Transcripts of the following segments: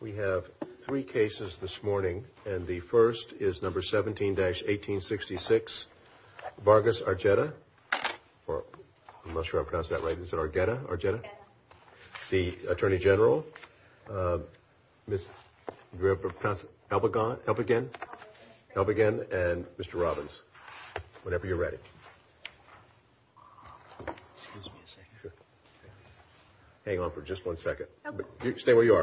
We have three cases this morning, and the first is number 17-1866. Vargas Arjeta, or I'm not sure I pronounced that right, is it Arjeta, Arjeta? The Attorney General, Ms. Elbegin, Elbegin, and Mr. Robbins. Whenever you're ready. Excuse me a second. Hang on for just one second. Okay. Whenever you're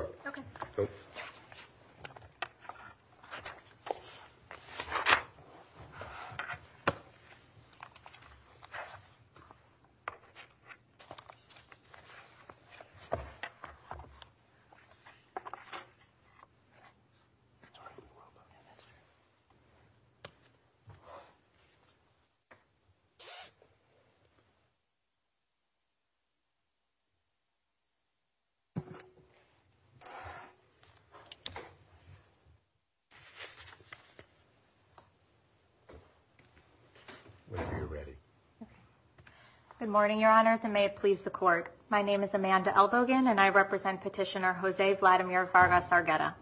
ready. Good morning, Your Honors, and may it please the Court. My name is Amanda Elbegin, and I represent Petitioner Jose Vladimir Vargas Arjeta.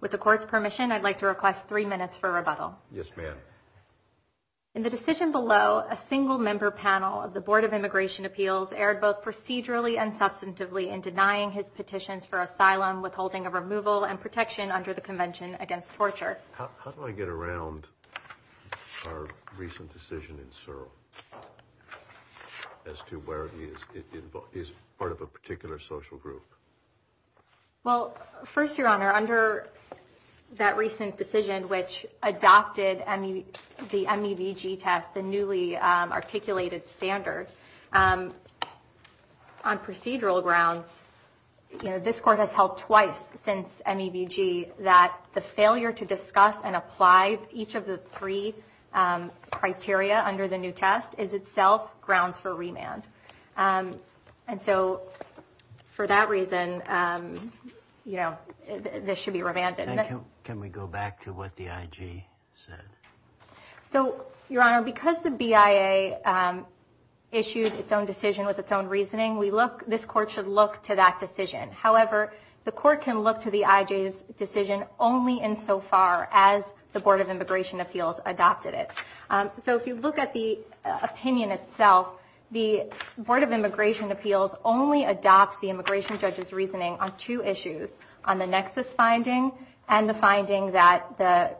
With the Court's permission, I'd like to request three minutes for rebuttal. Yes, ma'am. In the decision below, a single-member panel of the Board of Immigration Appeals erred both procedurally and substantively in denying his petitions for asylum, withholding of removal, and protection under the Convention Against Torture. How do I get around our recent decision in Searle as to where it is part of a particular social group? Well, first, Your Honor, under that recent decision which adopted the MEVG test, the newly articulated standard, on procedural grounds, this Court has held twice since MEVG that the failure to discuss and apply each of the three criteria under the new test is itself grounds for remand. And so, for that reason, you know, this should be remanded. Can we go back to what the IG said? So, Your Honor, because the BIA issued its own decision with its own reasoning, this Court should look to that decision. However, the Court can look to the IG's decision only insofar as the Board of Immigration Appeals adopted it. So, if you look at the opinion itself, the Board of Immigration Appeals only adopts the immigration judge's reasoning on two issues, on the nexus finding and the finding that the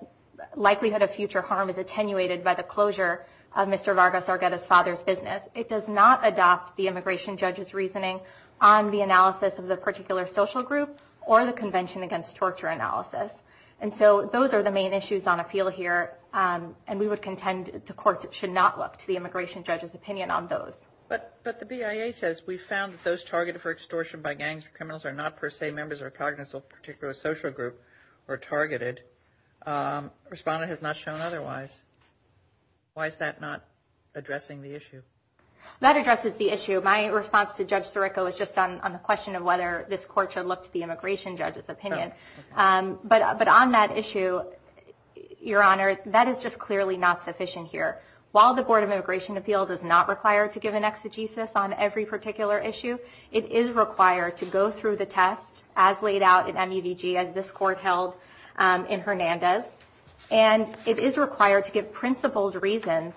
likelihood of future harm is attenuated by the closure of Mr. Vargas Argueta's father's business. It does not adopt the immigration judge's reasoning on the analysis of the particular social group or the Convention Against Torture analysis. And so, those are the main issues on appeal here, and we would contend the Court should not look to the immigration judge's opinion on those. But the BIA says, we found that those targeted for extortion by gangs or criminals are not per se members or cognates of a particular social group or targeted. Respondent has not shown otherwise. Why is that not addressing the issue? That addresses the issue. My response to Judge Sirico is just on the question of whether this Court should look to the immigration judge's opinion. But on that issue, Your Honor, that is just clearly not sufficient here. While the Board of Immigration Appeals is not required to give an exegesis on every particular issue, it is required to go through the test as laid out in MUDG as this Court held in Hernandez, and it is required to give principled reasons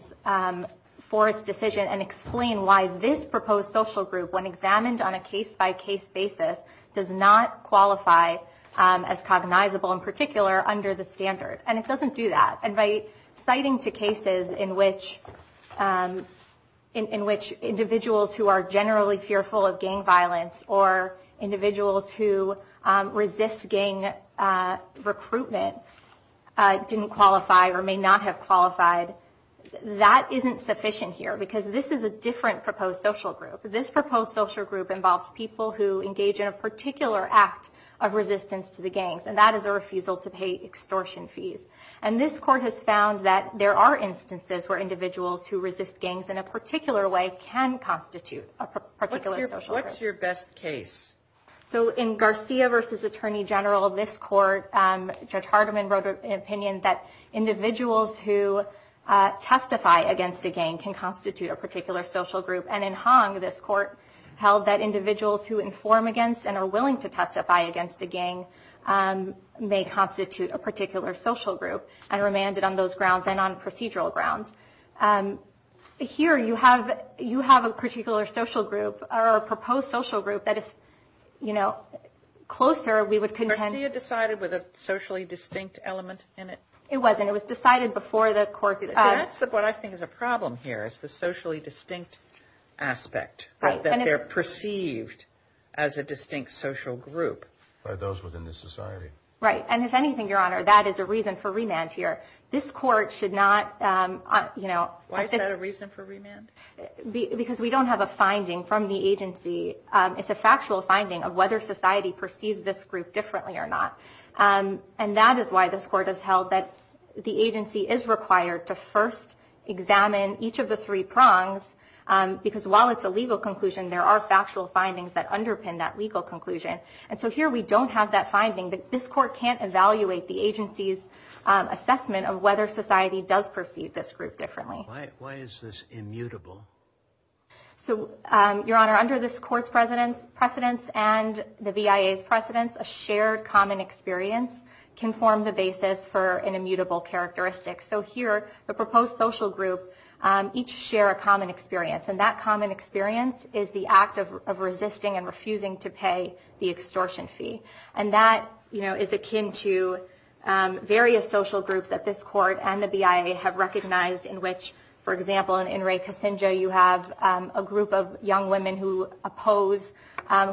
for its decision and explain why this proposed social group, when examined on a case-by-case basis, does not qualify as cognizable in particular under the standard. And it doesn't do that. And by citing two cases in which individuals who are generally fearful of gang violence or individuals who resist gang recruitment didn't qualify or may not have qualified, that isn't sufficient here because this is a different proposed social group. This proposed social group involves people who engage in a particular act of resistance to the gangs, and that is a refusal to pay extortion fees. And this Court has found that there are instances where individuals who resist gangs in a particular way can constitute a particular social group. What's your best case? So in Garcia v. Attorney General, this Court, Judge Hardiman wrote an opinion that individuals who testify against a gang can constitute a particular social group. And in Hong, this Court held that individuals who inform against and are willing to testify against a gang may constitute a particular social group and are remanded on those grounds and on procedural grounds. Here you have a particular social group or a proposed social group that is, you know, closer. We would contend. Garcia decided with a socially distinct element in it? It wasn't. It was decided before the Court. That's what I think is a problem here is the socially distinct aspect, that they're perceived as a distinct social group. By those within the society. Right. And if anything, Your Honor, that is a reason for remand here. This Court should not, you know. Why is that a reason for remand? Because we don't have a finding from the agency. It's a factual finding of whether society perceives this group differently or not. And that is why this Court has held that the agency is required to first examine each of the three prongs because while it's a legal conclusion, there are factual findings that underpin that legal conclusion. And so here we don't have that finding. This Court can't evaluate the agency's assessment of whether society does perceive this group differently. Why is this immutable? So, Your Honor, under this Court's precedence and the BIA's precedence, a shared common experience can form the basis for an immutable characteristic. So here, the proposed social group each share a common experience, and that common experience is the act of resisting and refusing to pay the extortion fee. And that, you know, is akin to various social groups at this Court and the BIA have recognized in which, for example, in In re Casinja, you have a group of young women who oppose,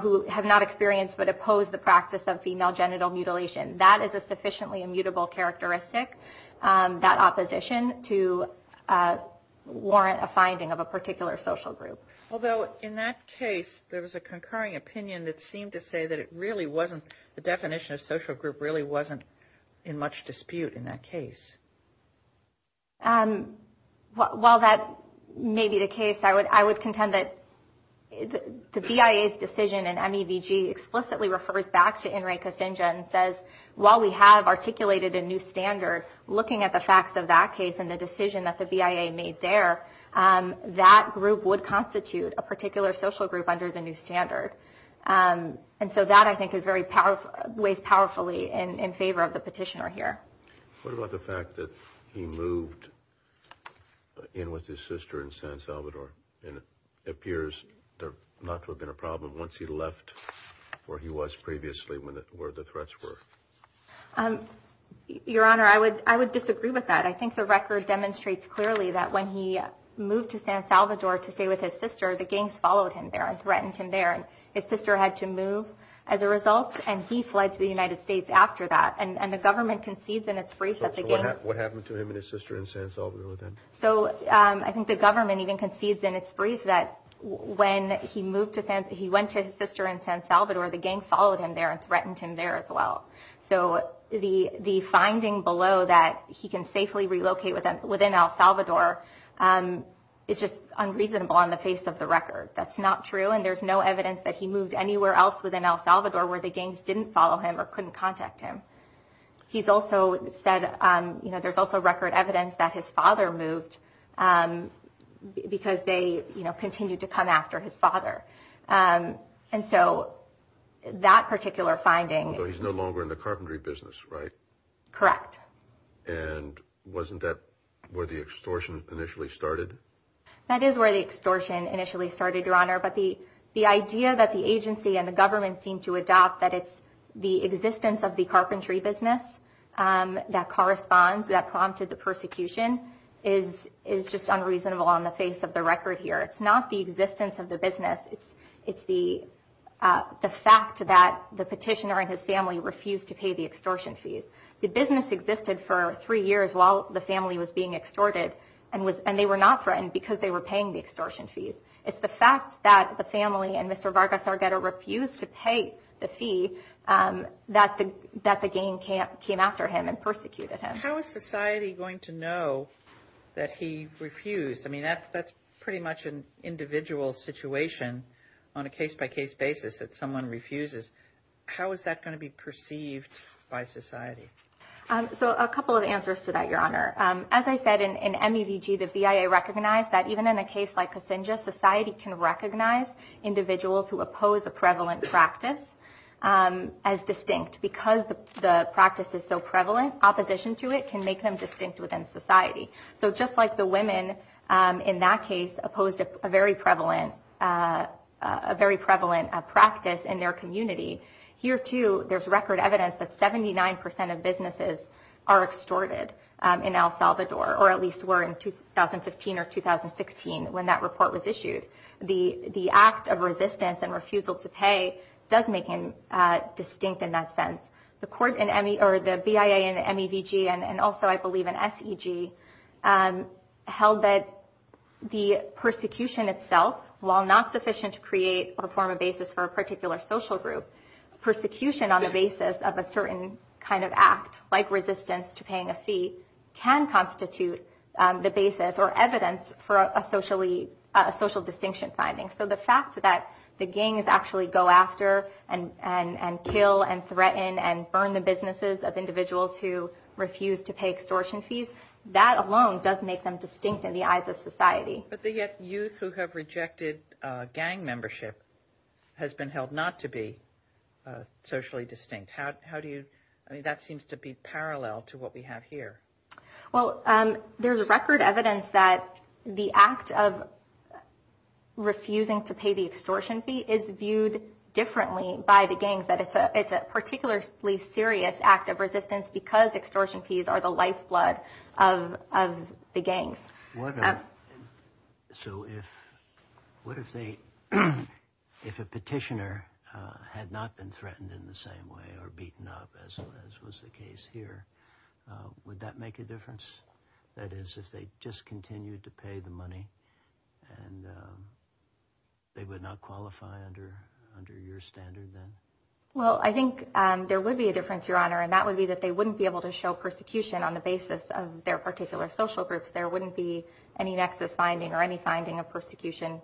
who have not experienced but oppose the practice of female genital mutilation. That is a sufficiently immutable characteristic, that opposition, to warrant a finding of a particular social group. Although in that case, there was a concurring opinion that seemed to say that it really wasn't, the definition of social group really wasn't in much dispute in that case. Well, that may be the case. I would contend that the BIA's decision in MEVG explicitly refers back to In re Casinja and says, while we have articulated a new standard, looking at the facts of that case and the decision that the BIA made there, that group would constitute a particular social group under the new standard. And so that, I think, weighs powerfully in favor of the petitioner here. What about the fact that he moved in with his sister in San Salvador and it appears not to have been a problem once he left where he was previously, where the threats were? Your Honor, I would disagree with that. I think the record demonstrates clearly that when he moved to San Salvador to stay with his sister, the gangs followed him there and threatened him there. And his sister had to move as a result, and he fled to the United States after that. And the government concedes in its brief that the gang – So what happened to him and his sister in San Salvador then? So I think the government even concedes in its brief that when he went to his sister in San Salvador, the gang followed him there and threatened him there as well. So the finding below that he can safely relocate within El Salvador is just unreasonable on the face of the record. That's not true, and there's no evidence that he moved anywhere else within El Salvador where the gangs didn't follow him or couldn't contact him. He's also said, you know, there's also record evidence that his father moved because they, you know, continued to come after his father. And so that particular finding – Although he's no longer in the carpentry business, right? Correct. And wasn't that where the extortion initially started? That is where the extortion initially started, Your Honor. But the idea that the agency and the government seem to adopt that it's the existence of the carpentry business that corresponds, that prompted the persecution, is just unreasonable on the face of the record here. It's not the existence of the business. It's the fact that the petitioner and his family refused to pay the extortion fees. The business existed for three years while the family was being extorted, and they were not threatened because they were paying the extortion fees. It's the fact that the family and Mr. Vargas Argueta refused to pay the fee that the gang came after him and persecuted him. How is society going to know that he refused? I mean, that's pretty much an individual situation on a case-by-case basis that someone refuses. How is that going to be perceived by society? So a couple of answers to that, Your Honor. As I said, in MEDG, the BIA recognized that even in a case like Kasinga, society can recognize individuals who oppose a prevalent practice as distinct. Because the practice is so prevalent, opposition to it can make them distinct within society. So just like the women in that case opposed a very prevalent practice in their community, here, too, there's record evidence that 79% of businesses are extorted in El Salvador, or at least were in 2015 or 2016 when that report was issued. The act of resistance and refusal to pay does make him distinct in that sense. The BIA in MEDG and also, I believe, in SEG held that the persecution itself, while not sufficient to create or form a basis for a particular social group, persecution on the basis of a certain kind of act, like resistance to paying a fee, can constitute the basis or evidence for a social distinction finding. So the fact that the gangs actually go after and kill and threaten and burn the businesses of individuals who refuse to pay extortion fees, that alone does make them distinct in the eyes of society. But the youth who have rejected gang membership has been held not to be socially distinct. How do you – I mean, that seems to be parallel to what we have here. Well, there's record evidence that the act of refusing to pay the extortion fee is viewed differently by the gangs, that it's a particularly serious act of resistance because extortion fees are the lifeblood of the gangs. What if – so if a petitioner had not been threatened in the same way or beaten up, as was the case here, would that make a difference? That is, if they just continued to pay the money and they would not qualify under your standard then? Well, I think there would be a difference, Your Honor, and that would be that they wouldn't be able to show persecution on the basis of their particular social groups. There wouldn't be any nexus finding or any finding of persecution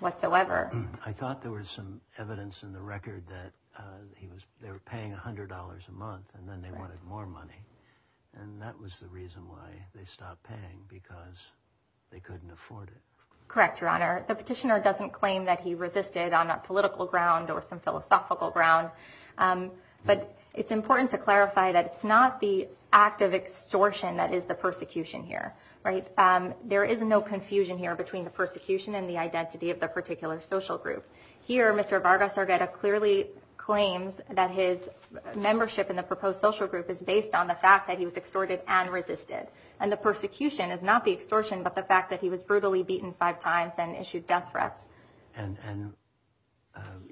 whatsoever. I thought there was some evidence in the record that they were paying $100 a month and then they wanted more money. And that was the reason why they stopped paying, because they couldn't afford it. Correct, Your Honor. The petitioner doesn't claim that he resisted on a political ground or some philosophical ground. But it's important to clarify that it's not the act of extortion that is the persecution here. There is no confusion here between the persecution and the identity of the particular social group. Here, Mr. Vargas Argueta clearly claims that his membership in the proposed social group is based on the fact that he was extorted and resisted. And the persecution is not the extortion, but the fact that he was brutally beaten five times and issued death threats. And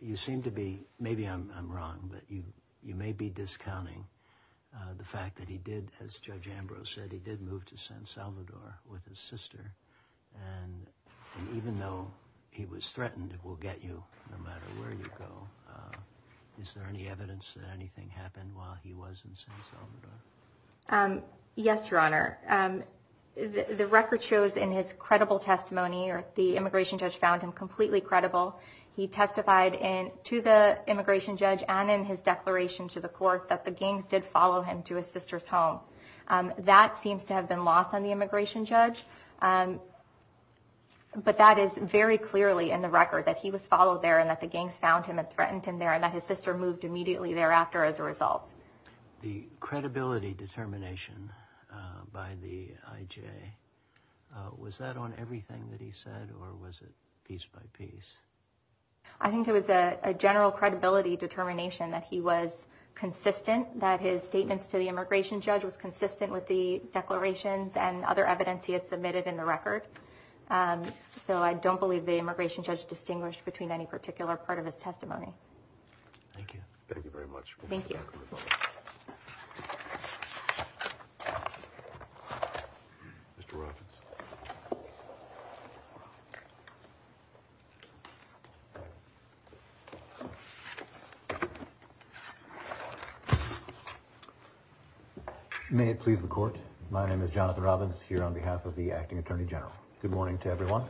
you seem to be – maybe I'm wrong, but you may be discounting the fact that he did, as Judge Ambrose said, he did move to San Salvador with his sister. And even though he was threatened, we'll get you no matter where you go. Is there any evidence that anything happened while he was in San Salvador? Yes, Your Honor. The record shows in his credible testimony, or the immigration judge found him completely credible, he testified to the immigration judge and in his declaration to the court that the gangs did follow him to his sister's home. That seems to have been lost on the immigration judge, but that is very clearly in the record that he was followed there and that the gangs found him and threatened him there and that his sister moved immediately thereafter as a result. The credibility determination by the IJ, was that on everything that he said, or was it piece by piece? I think it was a general credibility determination that he was consistent, that his statements to the immigration judge was consistent with the declarations and other evidence he had submitted in the record. So I don't believe the immigration judge distinguished between any particular part of his testimony. Thank you very much. Thank you. Mr. Robbins. May it please the court, my name is Jonathan Robbins, here on behalf of the Acting Attorney General. Good morning to everyone.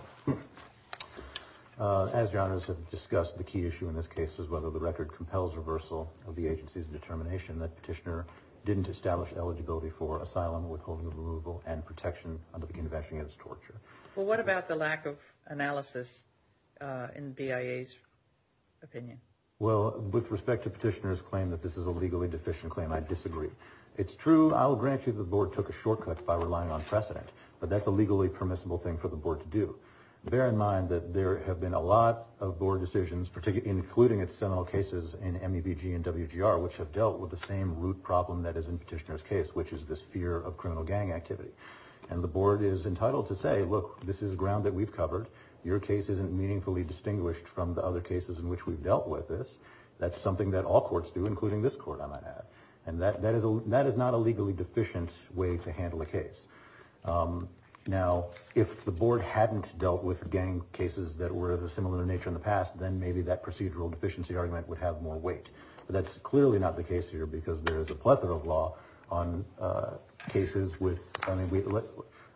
As Your Honors have discussed, the key issue in this case is whether the record compels reversal of the agency's determination that Petitioner didn't establish eligibility for asylum, withholding of removal, and protection under the Convention against Torture. Well, what about the lack of analysis in BIA's opinion? Well, with respect to Petitioner's claim that this is a legally deficient claim, I disagree. It's true, I'll grant you the Board took a shortcut by relying on precedent, but that's a legally permissible thing for the Board to do. Bear in mind that there have been a lot of Board decisions, including its seminal cases in MEBG and WGR, which have dealt with the same root problem that is in Petitioner's case, which is this fear of criminal gang activity. And the Board is entitled to say, look, this is ground that we've covered. Your case isn't meaningfully distinguished from the other cases in which we've dealt with this. That's something that all courts do, including this court, I might add. And that is not a legally deficient way to handle a case. Now, if the Board hadn't dealt with gang cases that were of a similar nature in the past, then maybe that procedural deficiency argument would have more weight. But that's clearly not the case here because there is a plethora of law on cases with –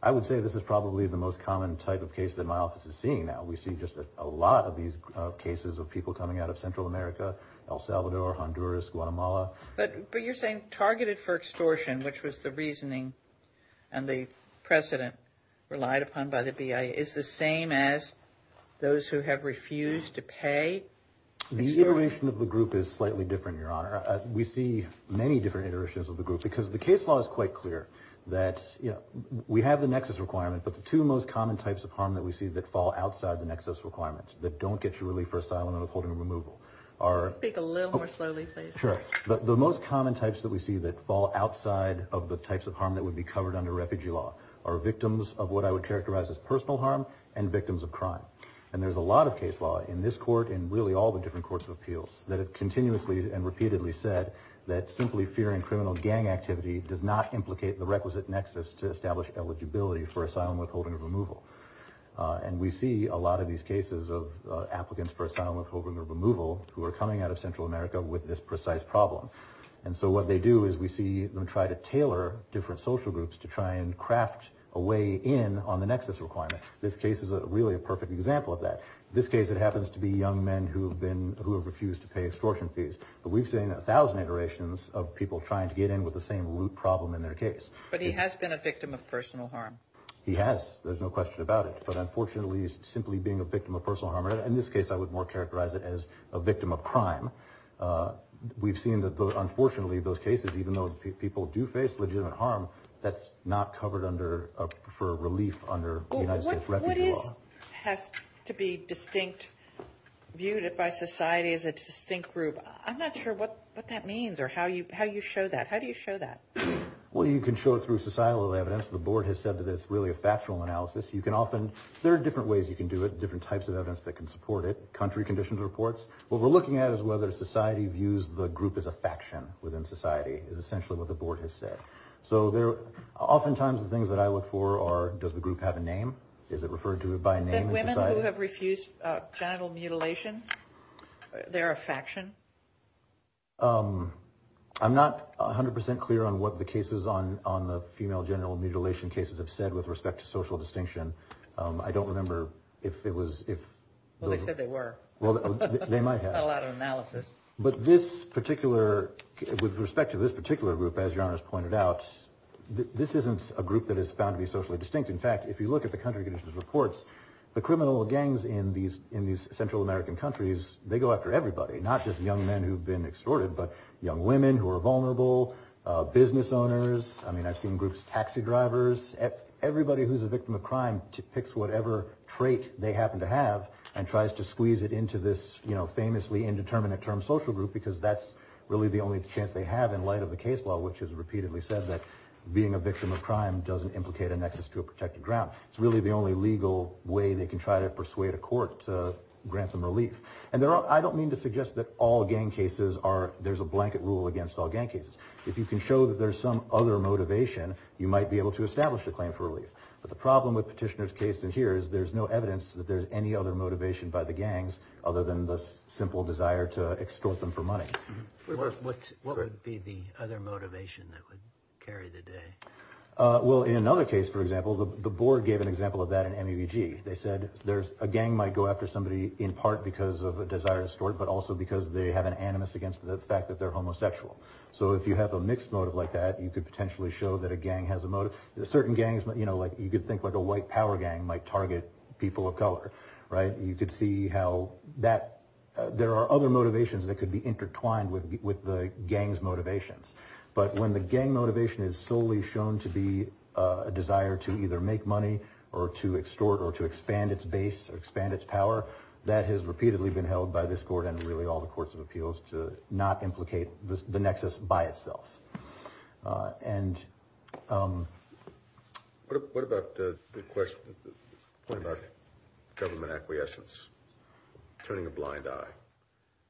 I would say this is probably the most common type of case that my office is seeing now. We see just a lot of these cases of people coming out of Central America, El Salvador, Honduras, Guatemala. But you're saying targeted for extortion, which was the reasoning and the precedent relied upon by the BIA, is the same as those who have refused to pay? The iteration of the group is slightly different, Your Honor. We see many different iterations of the group because the case law is quite clear that, you know, we have the nexus requirement, but the two most common types of harm that we see that fall outside the nexus requirement that don't get you relief for asylum and withholding removal are – Speak a little more slowly, please. Sure. The most common types that we see that fall outside of the types of harm that would be covered under refugee law are victims of what I would characterize as personal harm and victims of crime. And there's a lot of case law in this court and really all the different courts of appeals that have continuously and repeatedly said that simply fearing criminal gang activity does not implicate the requisite nexus to establish eligibility for asylum, withholding, or removal. And we see a lot of these cases of applicants for asylum, withholding, or removal who are coming out of Central America with this precise problem. And so what they do is we see them try to tailor different social groups to try and craft a way in on the nexus requirement. This case is really a perfect example of that. In this case, it happens to be young men who have been – who have refused to pay extortion fees. But we've seen a thousand iterations of people trying to get in with the same root problem in their case. But he has been a victim of personal harm. He has. There's no question about it. But unfortunately, simply being a victim of personal harm – in this case, I would more characterize it as a victim of crime – we've seen that, unfortunately, those cases, even though people do face legitimate harm, that's not covered under – for relief under the United States Refugee Law. What is – has to be distinct, viewed by society as a distinct group? I'm not sure what that means or how you show that. How do you show that? Well, you can show it through societal evidence. The board has said that it's really a factual analysis. You can often – there are different ways you can do it, different types of evidence that can support it. What we're looking at is whether society views the group as a faction within society, is essentially what the board has said. So there – oftentimes, the things that I look for are, does the group have a name? Is it referred to by a name in society? Then women who have refused genital mutilation, they're a faction? I'm not 100 percent clear on what the cases on the female genital mutilation cases have said with respect to social distinction. I don't remember if it was – if – Well, they said they were. Well, they might have. Not a lot of analysis. But this particular – with respect to this particular group, as Your Honor has pointed out, this isn't a group that is found to be socially distinct. In fact, if you look at the country conditions reports, the criminal gangs in these Central American countries, they go after everybody, not just young men who've been extorted, but young women who are vulnerable, business owners. I mean, I've seen groups – taxi drivers. Everybody who's a victim of crime picks whatever trait they happen to have and tries to squeeze it into this famously indeterminate term social group because that's really the only chance they have in light of the case law, which has repeatedly said that being a victim of crime doesn't implicate a nexus to a protected ground. It's really the only legal way they can try to persuade a court to grant them relief. And I don't mean to suggest that all gang cases are – there's a blanket rule against all gang cases. If you can show that there's some other motivation, you might be able to establish a claim for relief. But the problem with Petitioner's case in here is there's no evidence that there's any other motivation by the gangs other than the simple desire to extort them for money. What would be the other motivation that would carry the day? Well, in another case, for example, the board gave an example of that in MEVG. They said there's – a gang might go after somebody in part because of a desire to extort, but also because they have an animus against the fact that they're homosexual. So if you have a mixed motive like that, you could potentially show that a gang has a motive. Certain gangs, you know, like you could think like a white power gang might target people of color, right? You could see how that – there are other motivations that could be intertwined with the gang's motivations. But when the gang motivation is solely shown to be a desire to either make money or to extort or to expand its base or expand its power, that has repeatedly been held by this court and really all the courts of appeals to not implicate the nexus by itself. And – What about the question – the point about government acquiescence, turning a blind eye?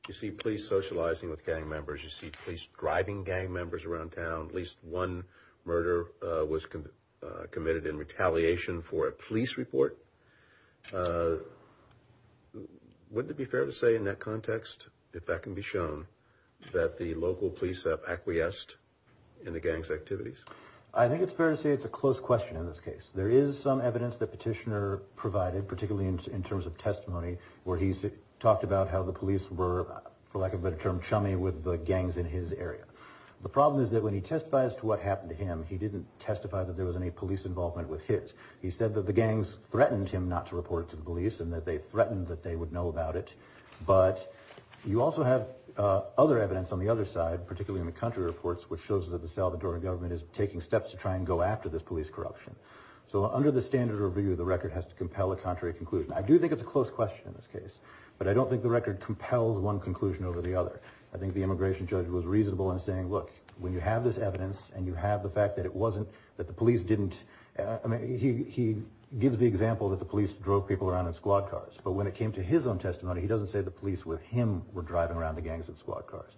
You see police socializing with gang members. You see police driving gang members around town. At least one murder was committed in retaliation for a police report. Wouldn't it be fair to say in that context, if that can be shown, that the local police have acquiesced in the gang's activities? I think it's fair to say it's a close question in this case. There is some evidence that Petitioner provided, particularly in terms of testimony, where he talked about how the police were, for lack of a better term, chummy with the gangs in his area. The problem is that when he testifies to what happened to him, he didn't testify that there was any police involvement with his. He said that the gangs threatened him not to report to the police and that they threatened that they would know about it. But you also have other evidence on the other side, particularly in the country reports, which shows that the Salvadoran government is taking steps to try and go after this police corruption. So under the standard review, the record has to compel a contrary conclusion. I do think it's a close question in this case, but I don't think the record compels one conclusion over the other. I think the immigration judge was reasonable in saying, look, when you have this evidence and you have the fact that it wasn't – that the police didn't – I mean, he gives the example that the police drove people around in squad cars, but when it came to his own testimony, he doesn't say the police with him were driving around the gangs in squad cars.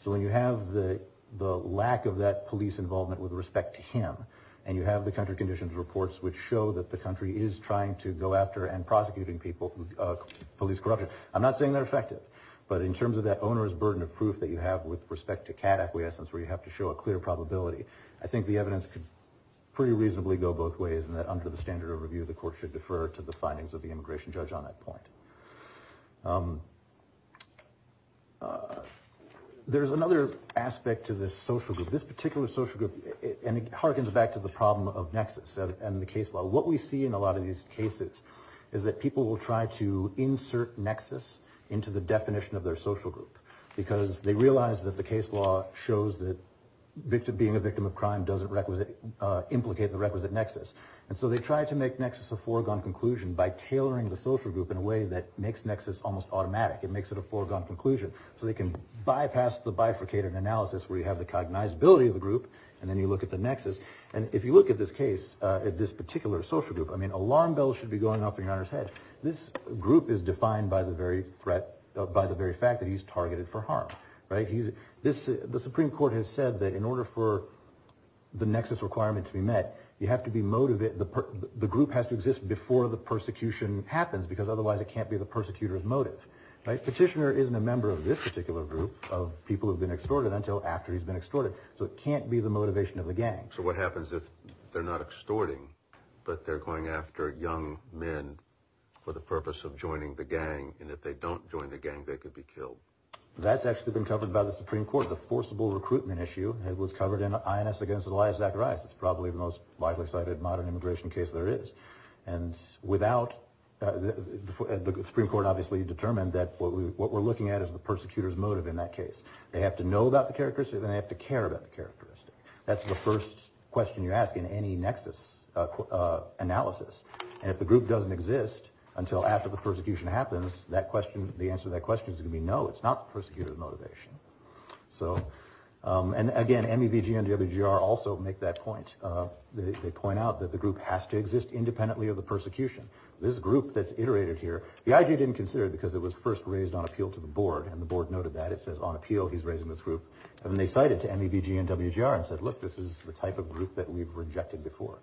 So when you have the lack of that police involvement with respect to him and you have the country conditions reports which show that the country is trying to go after and prosecuting people, police corruption, I'm not saying they're effective, but in terms of that owner's burden of proof that you have with respect to cat acquiescence, where you have to show a clear probability, I think the evidence could pretty reasonably go both ways in that under the standard review, the court should defer to the findings of the immigration judge on that point. There's another aspect to this social group. This particular social group – and it harkens back to the problem of nexus and the case law. What we see in a lot of these cases is that people will try to insert nexus into the definition of their social group because they realize that the case law shows that being a victim of crime doesn't implicate the requisite nexus. And so they try to make nexus a foregone conclusion by tailoring the social group in a way that makes nexus almost automatic. It makes it a foregone conclusion so they can bypass the bifurcated analysis where you have the cognizability of the group and then you look at the nexus. And if you look at this case, at this particular social group, alarm bells should be going off in your owner's head. This group is defined by the very fact that he's targeted for harm. The Supreme Court has said that in order for the nexus requirement to be met, the group has to exist before the persecution happens because otherwise it can't be the persecutor's motive. Petitioner isn't a member of this particular group of people who have been extorted until after he's been extorted, so it can't be the motivation of the gang. So what happens if they're not extorting but they're going after young men for the purpose of joining the gang, and if they don't join the gang they could be killed? That's actually been covered by the Supreme Court. The forcible recruitment issue was covered in INS against Elias Zacharias. It's probably the most widely cited modern immigration case there is. And the Supreme Court obviously determined that what we're looking at is the persecutor's motive in that case. They have to know about the characteristic and they have to care about the characteristic. That's the first question you ask in any nexus analysis. And if the group doesn't exist until after the persecution happens, the answer to that question is going to be no, it's not the persecutor's motivation. And again, MEVG and WGR also make that point. They point out that the group has to exist independently of the persecution. This group that's iterated here, the IG didn't consider it because it was first raised on appeal to the board, and the board noted that. It says on appeal he's raising this group. And they cite it to MEVG and WGR and said, look, this is the type of group that we've rejected before.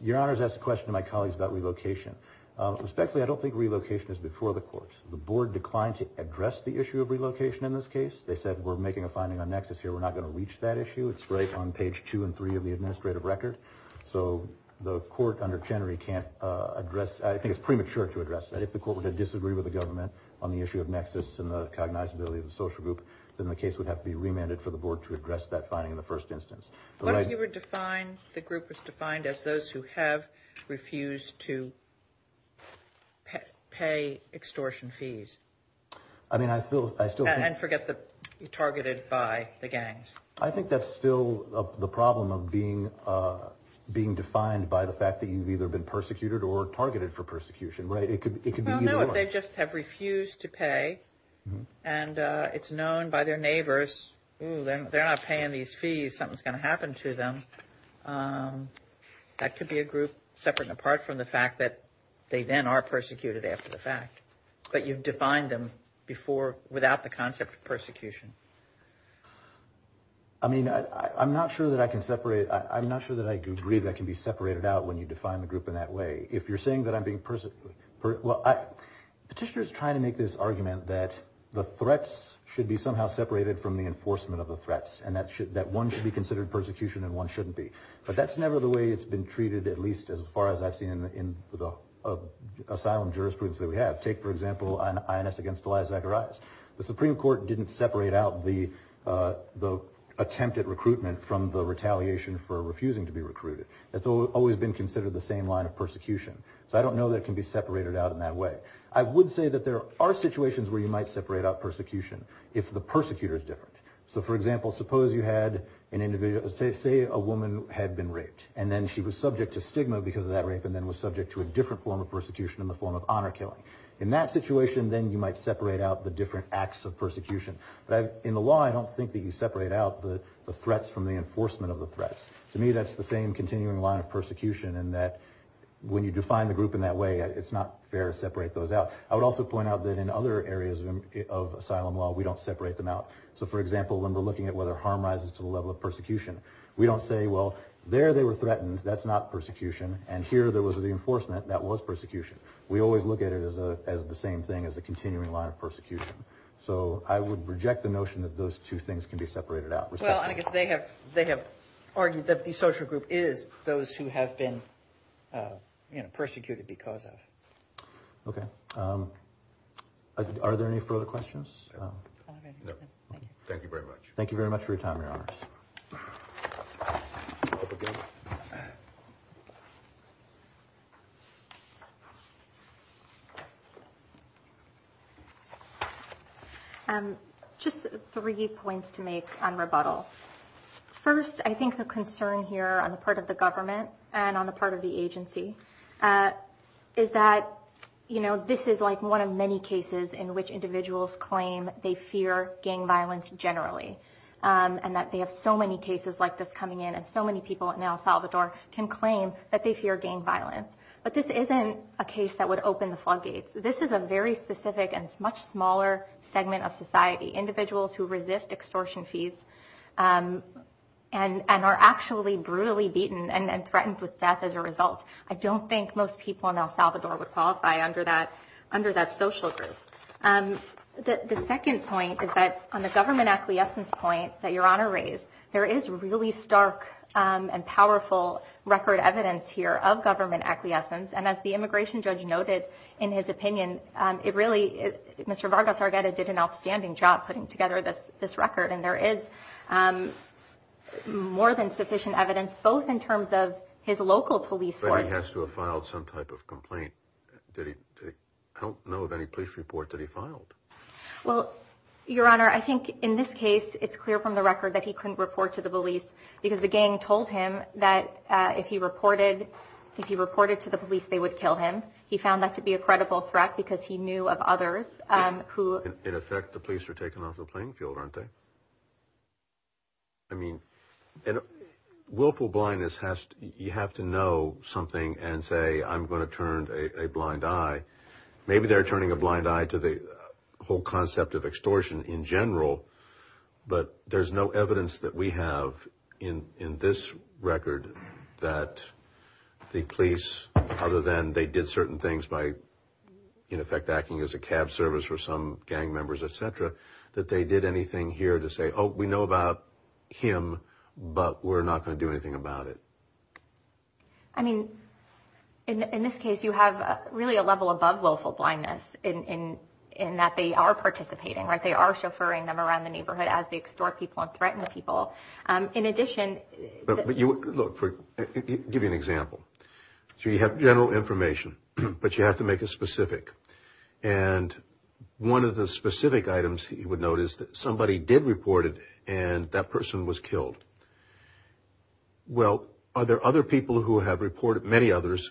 Your Honors asked a question to my colleagues about relocation. Respectfully, I don't think relocation is before the courts. The board declined to address the issue of relocation in this case. They said we're making a finding on nexus here, we're not going to reach that issue. It's right on page two and three of the administrative record. So the court under Chenery can't address, I think it's premature to address that. If the court were to disagree with the government on the issue of nexus and the cognizability of the social group, then the case would have to be remanded for the board to address that finding in the first instance. You were defined, the group was defined as those who have refused to pay extortion fees. I mean, I still think... And forget the targeted by the gangs. I think that's still the problem of being defined by the fact that you've either been persecuted or targeted for persecution, right? It could be either or. Well, no, if they just have refused to pay, and it's known by their neighbors, ooh, they're not paying these fees, something's going to happen to them. That could be a group separate and apart from the fact that they then are persecuted after the fact. But you've defined them before without the concept of persecution. I mean, I'm not sure that I can separate... I'm not sure that I agree that can be separated out when you define the group in that way. If you're saying that I'm being... Petitioners try to make this argument that the threats should be somehow separated from the enforcement of the threats, and that one should be considered persecution and one shouldn't be. But that's never the way it's been treated, at least as far as I've seen in the asylum jurisprudence that we have. Take, for example, INS against Elijah Zacharias. The Supreme Court didn't separate out the attempt at recruitment from the retaliation for refusing to be recruited. That's always been considered the same line of persecution. So I don't know that it can be separated out in that way. I would say that there are situations where you might separate out persecution if the persecutor is different. So, for example, suppose you had an individual... Say a woman had been raped, and then she was subject to stigma because of that rape and then was subject to a different form of persecution in the form of honor killing. In that situation, then you might separate out the different acts of persecution. But in the law, I don't think that you separate out the threats from the enforcement of the threats. To me, that's the same continuing line of persecution in that when you define the group in that way, it's not fair to separate those out. I would also point out that in other areas of asylum law, we don't separate them out. So, for example, when we're looking at whether harm rises to the level of persecution, we don't say, well, there they were threatened, that's not persecution, and here there was the enforcement, that was persecution. We always look at it as the same thing, as a continuing line of persecution. So I would reject the notion that those two things can be separated out. Well, I guess they have argued that the social group is those who have been persecuted because of. Okay. Are there any further questions? No. Thank you very much. Thank you very much for your time, Your Honors. Thank you. Just three points to make on rebuttal. First, I think the concern here on the part of the government and on the part of the agency is that, you know, this is like one of many cases in which individuals claim they fear gang violence generally and that they have so many cases like this coming in, and so many people in El Salvador can claim that they fear gang violence. But this isn't a case that would open the floodgates. This is a very specific and much smaller segment of society, individuals who resist extortion fees and are actually brutally beaten and threatened with death as a result. I don't think most people in El Salvador would qualify under that social group. The second point is that on the government acquiescence point that Your Honor raised, there is really stark and powerful record evidence here of government acquiescence, and as the immigration judge noted in his opinion, it really, Mr. Vargas Argueta did an outstanding job putting together this record, and there is more than sufficient evidence both in terms of his local police force. But he has to have filed some type of complaint. I don't know of any police report that he filed. Well, Your Honor, I think in this case, it's clear from the record that he couldn't report to the police because the gang told him that if he reported to the police, they would kill him. He found that to be a credible threat because he knew of others who… In effect, the police were taken off the playing field, aren't they? I mean, willful blindness, you have to know something and say, I'm going to turn a blind eye. Maybe they're turning a blind eye to the whole concept of extortion in general, but there's no evidence that we have in this record that the police, other than they did certain things by in effect acting as a cab service for some gang members, et cetera, that they did anything here to say, oh, we know about him, but we're not going to do anything about it. I mean, in this case, you have really a level above willful blindness in that they are participating, right? They are chauffeuring them around the neighborhood as they extort people and threaten people. In addition… Look, I'll give you an example. So you have general information, but you have to make it specific. And one of the specific items you would note is that somebody did report it and that person was killed. Well, are there other people who have reported, many others,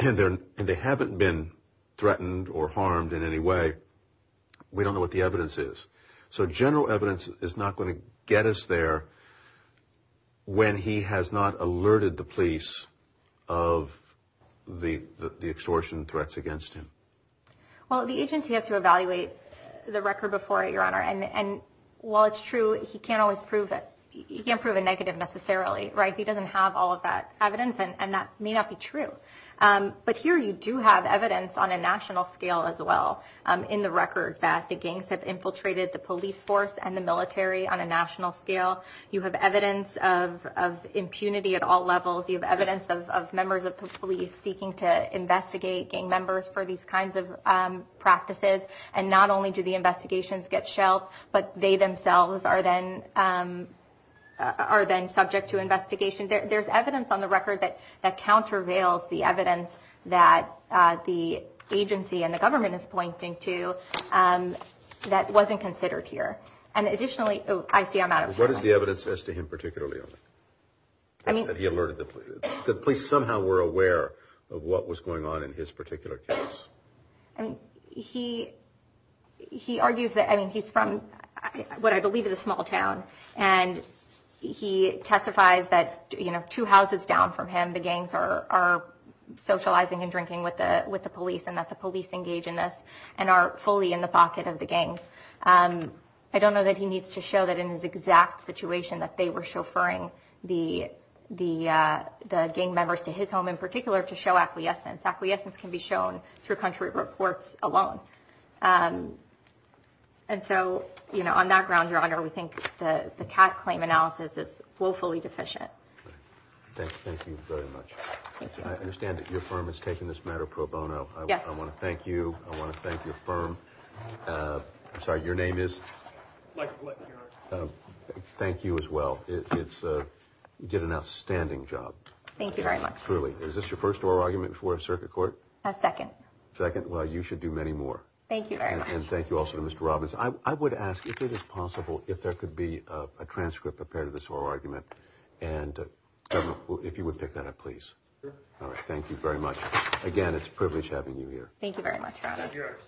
and they haven't been threatened or harmed in any way? We don't know what the evidence is. So general evidence is not going to get us there when he has not alerted the police of the extortion threats against him. Well, the agency has to evaluate the record before it, Your Honor. And while it's true, he can't always prove it. He can't prove a negative necessarily, right? He doesn't have all of that evidence, and that may not be true. But here you do have evidence on a national scale as well in the record that the gangs have infiltrated the police force and the military on a national scale. You have evidence of impunity at all levels. You have evidence of members of the police seeking to investigate gang members for these kinds of practices. And not only do the investigations get shelved, but they themselves are then subject to investigation. There's evidence on the record that countervails the evidence that the agency and the government is pointing to that wasn't considered here. And additionally, I see I'm out of time. What is the evidence as to him particularly, Your Honor, that he alerted the police? The police somehow were aware of what was going on in his particular case. I mean, he argues that, I mean, he's from what I believe is a small town, and he testifies that, you know, two houses down from him, the gangs are socializing and drinking with the police and that the police engage in this and are fully in the pocket of the gangs. I don't know that he needs to show that in his exact situation that they were chauffeuring the gang members to his home in particular to show acquiescence. Acquiescence can be shown through country reports alone. And so, you know, on that ground, Your Honor, we think the Kat claim analysis is woefully deficient. Thank you very much. I understand that your firm is taking this matter pro bono. Yes. I want to thank you. I want to thank your firm. I'm sorry, your name is? Thank you as well. You did an outstanding job. Thank you very much. Truly. Is this your first oral argument before a circuit court? A second. Second. Well, you should do many more. Thank you very much. And thank you also to Mr. Robbins. I would ask if it is possible if there could be a transcript prepared of this oral argument, and if you would pick that up, please. Sure. All right. Thank you very much. Again, it's a privilege having you here. Thank you very much, Your Honor. That's yours.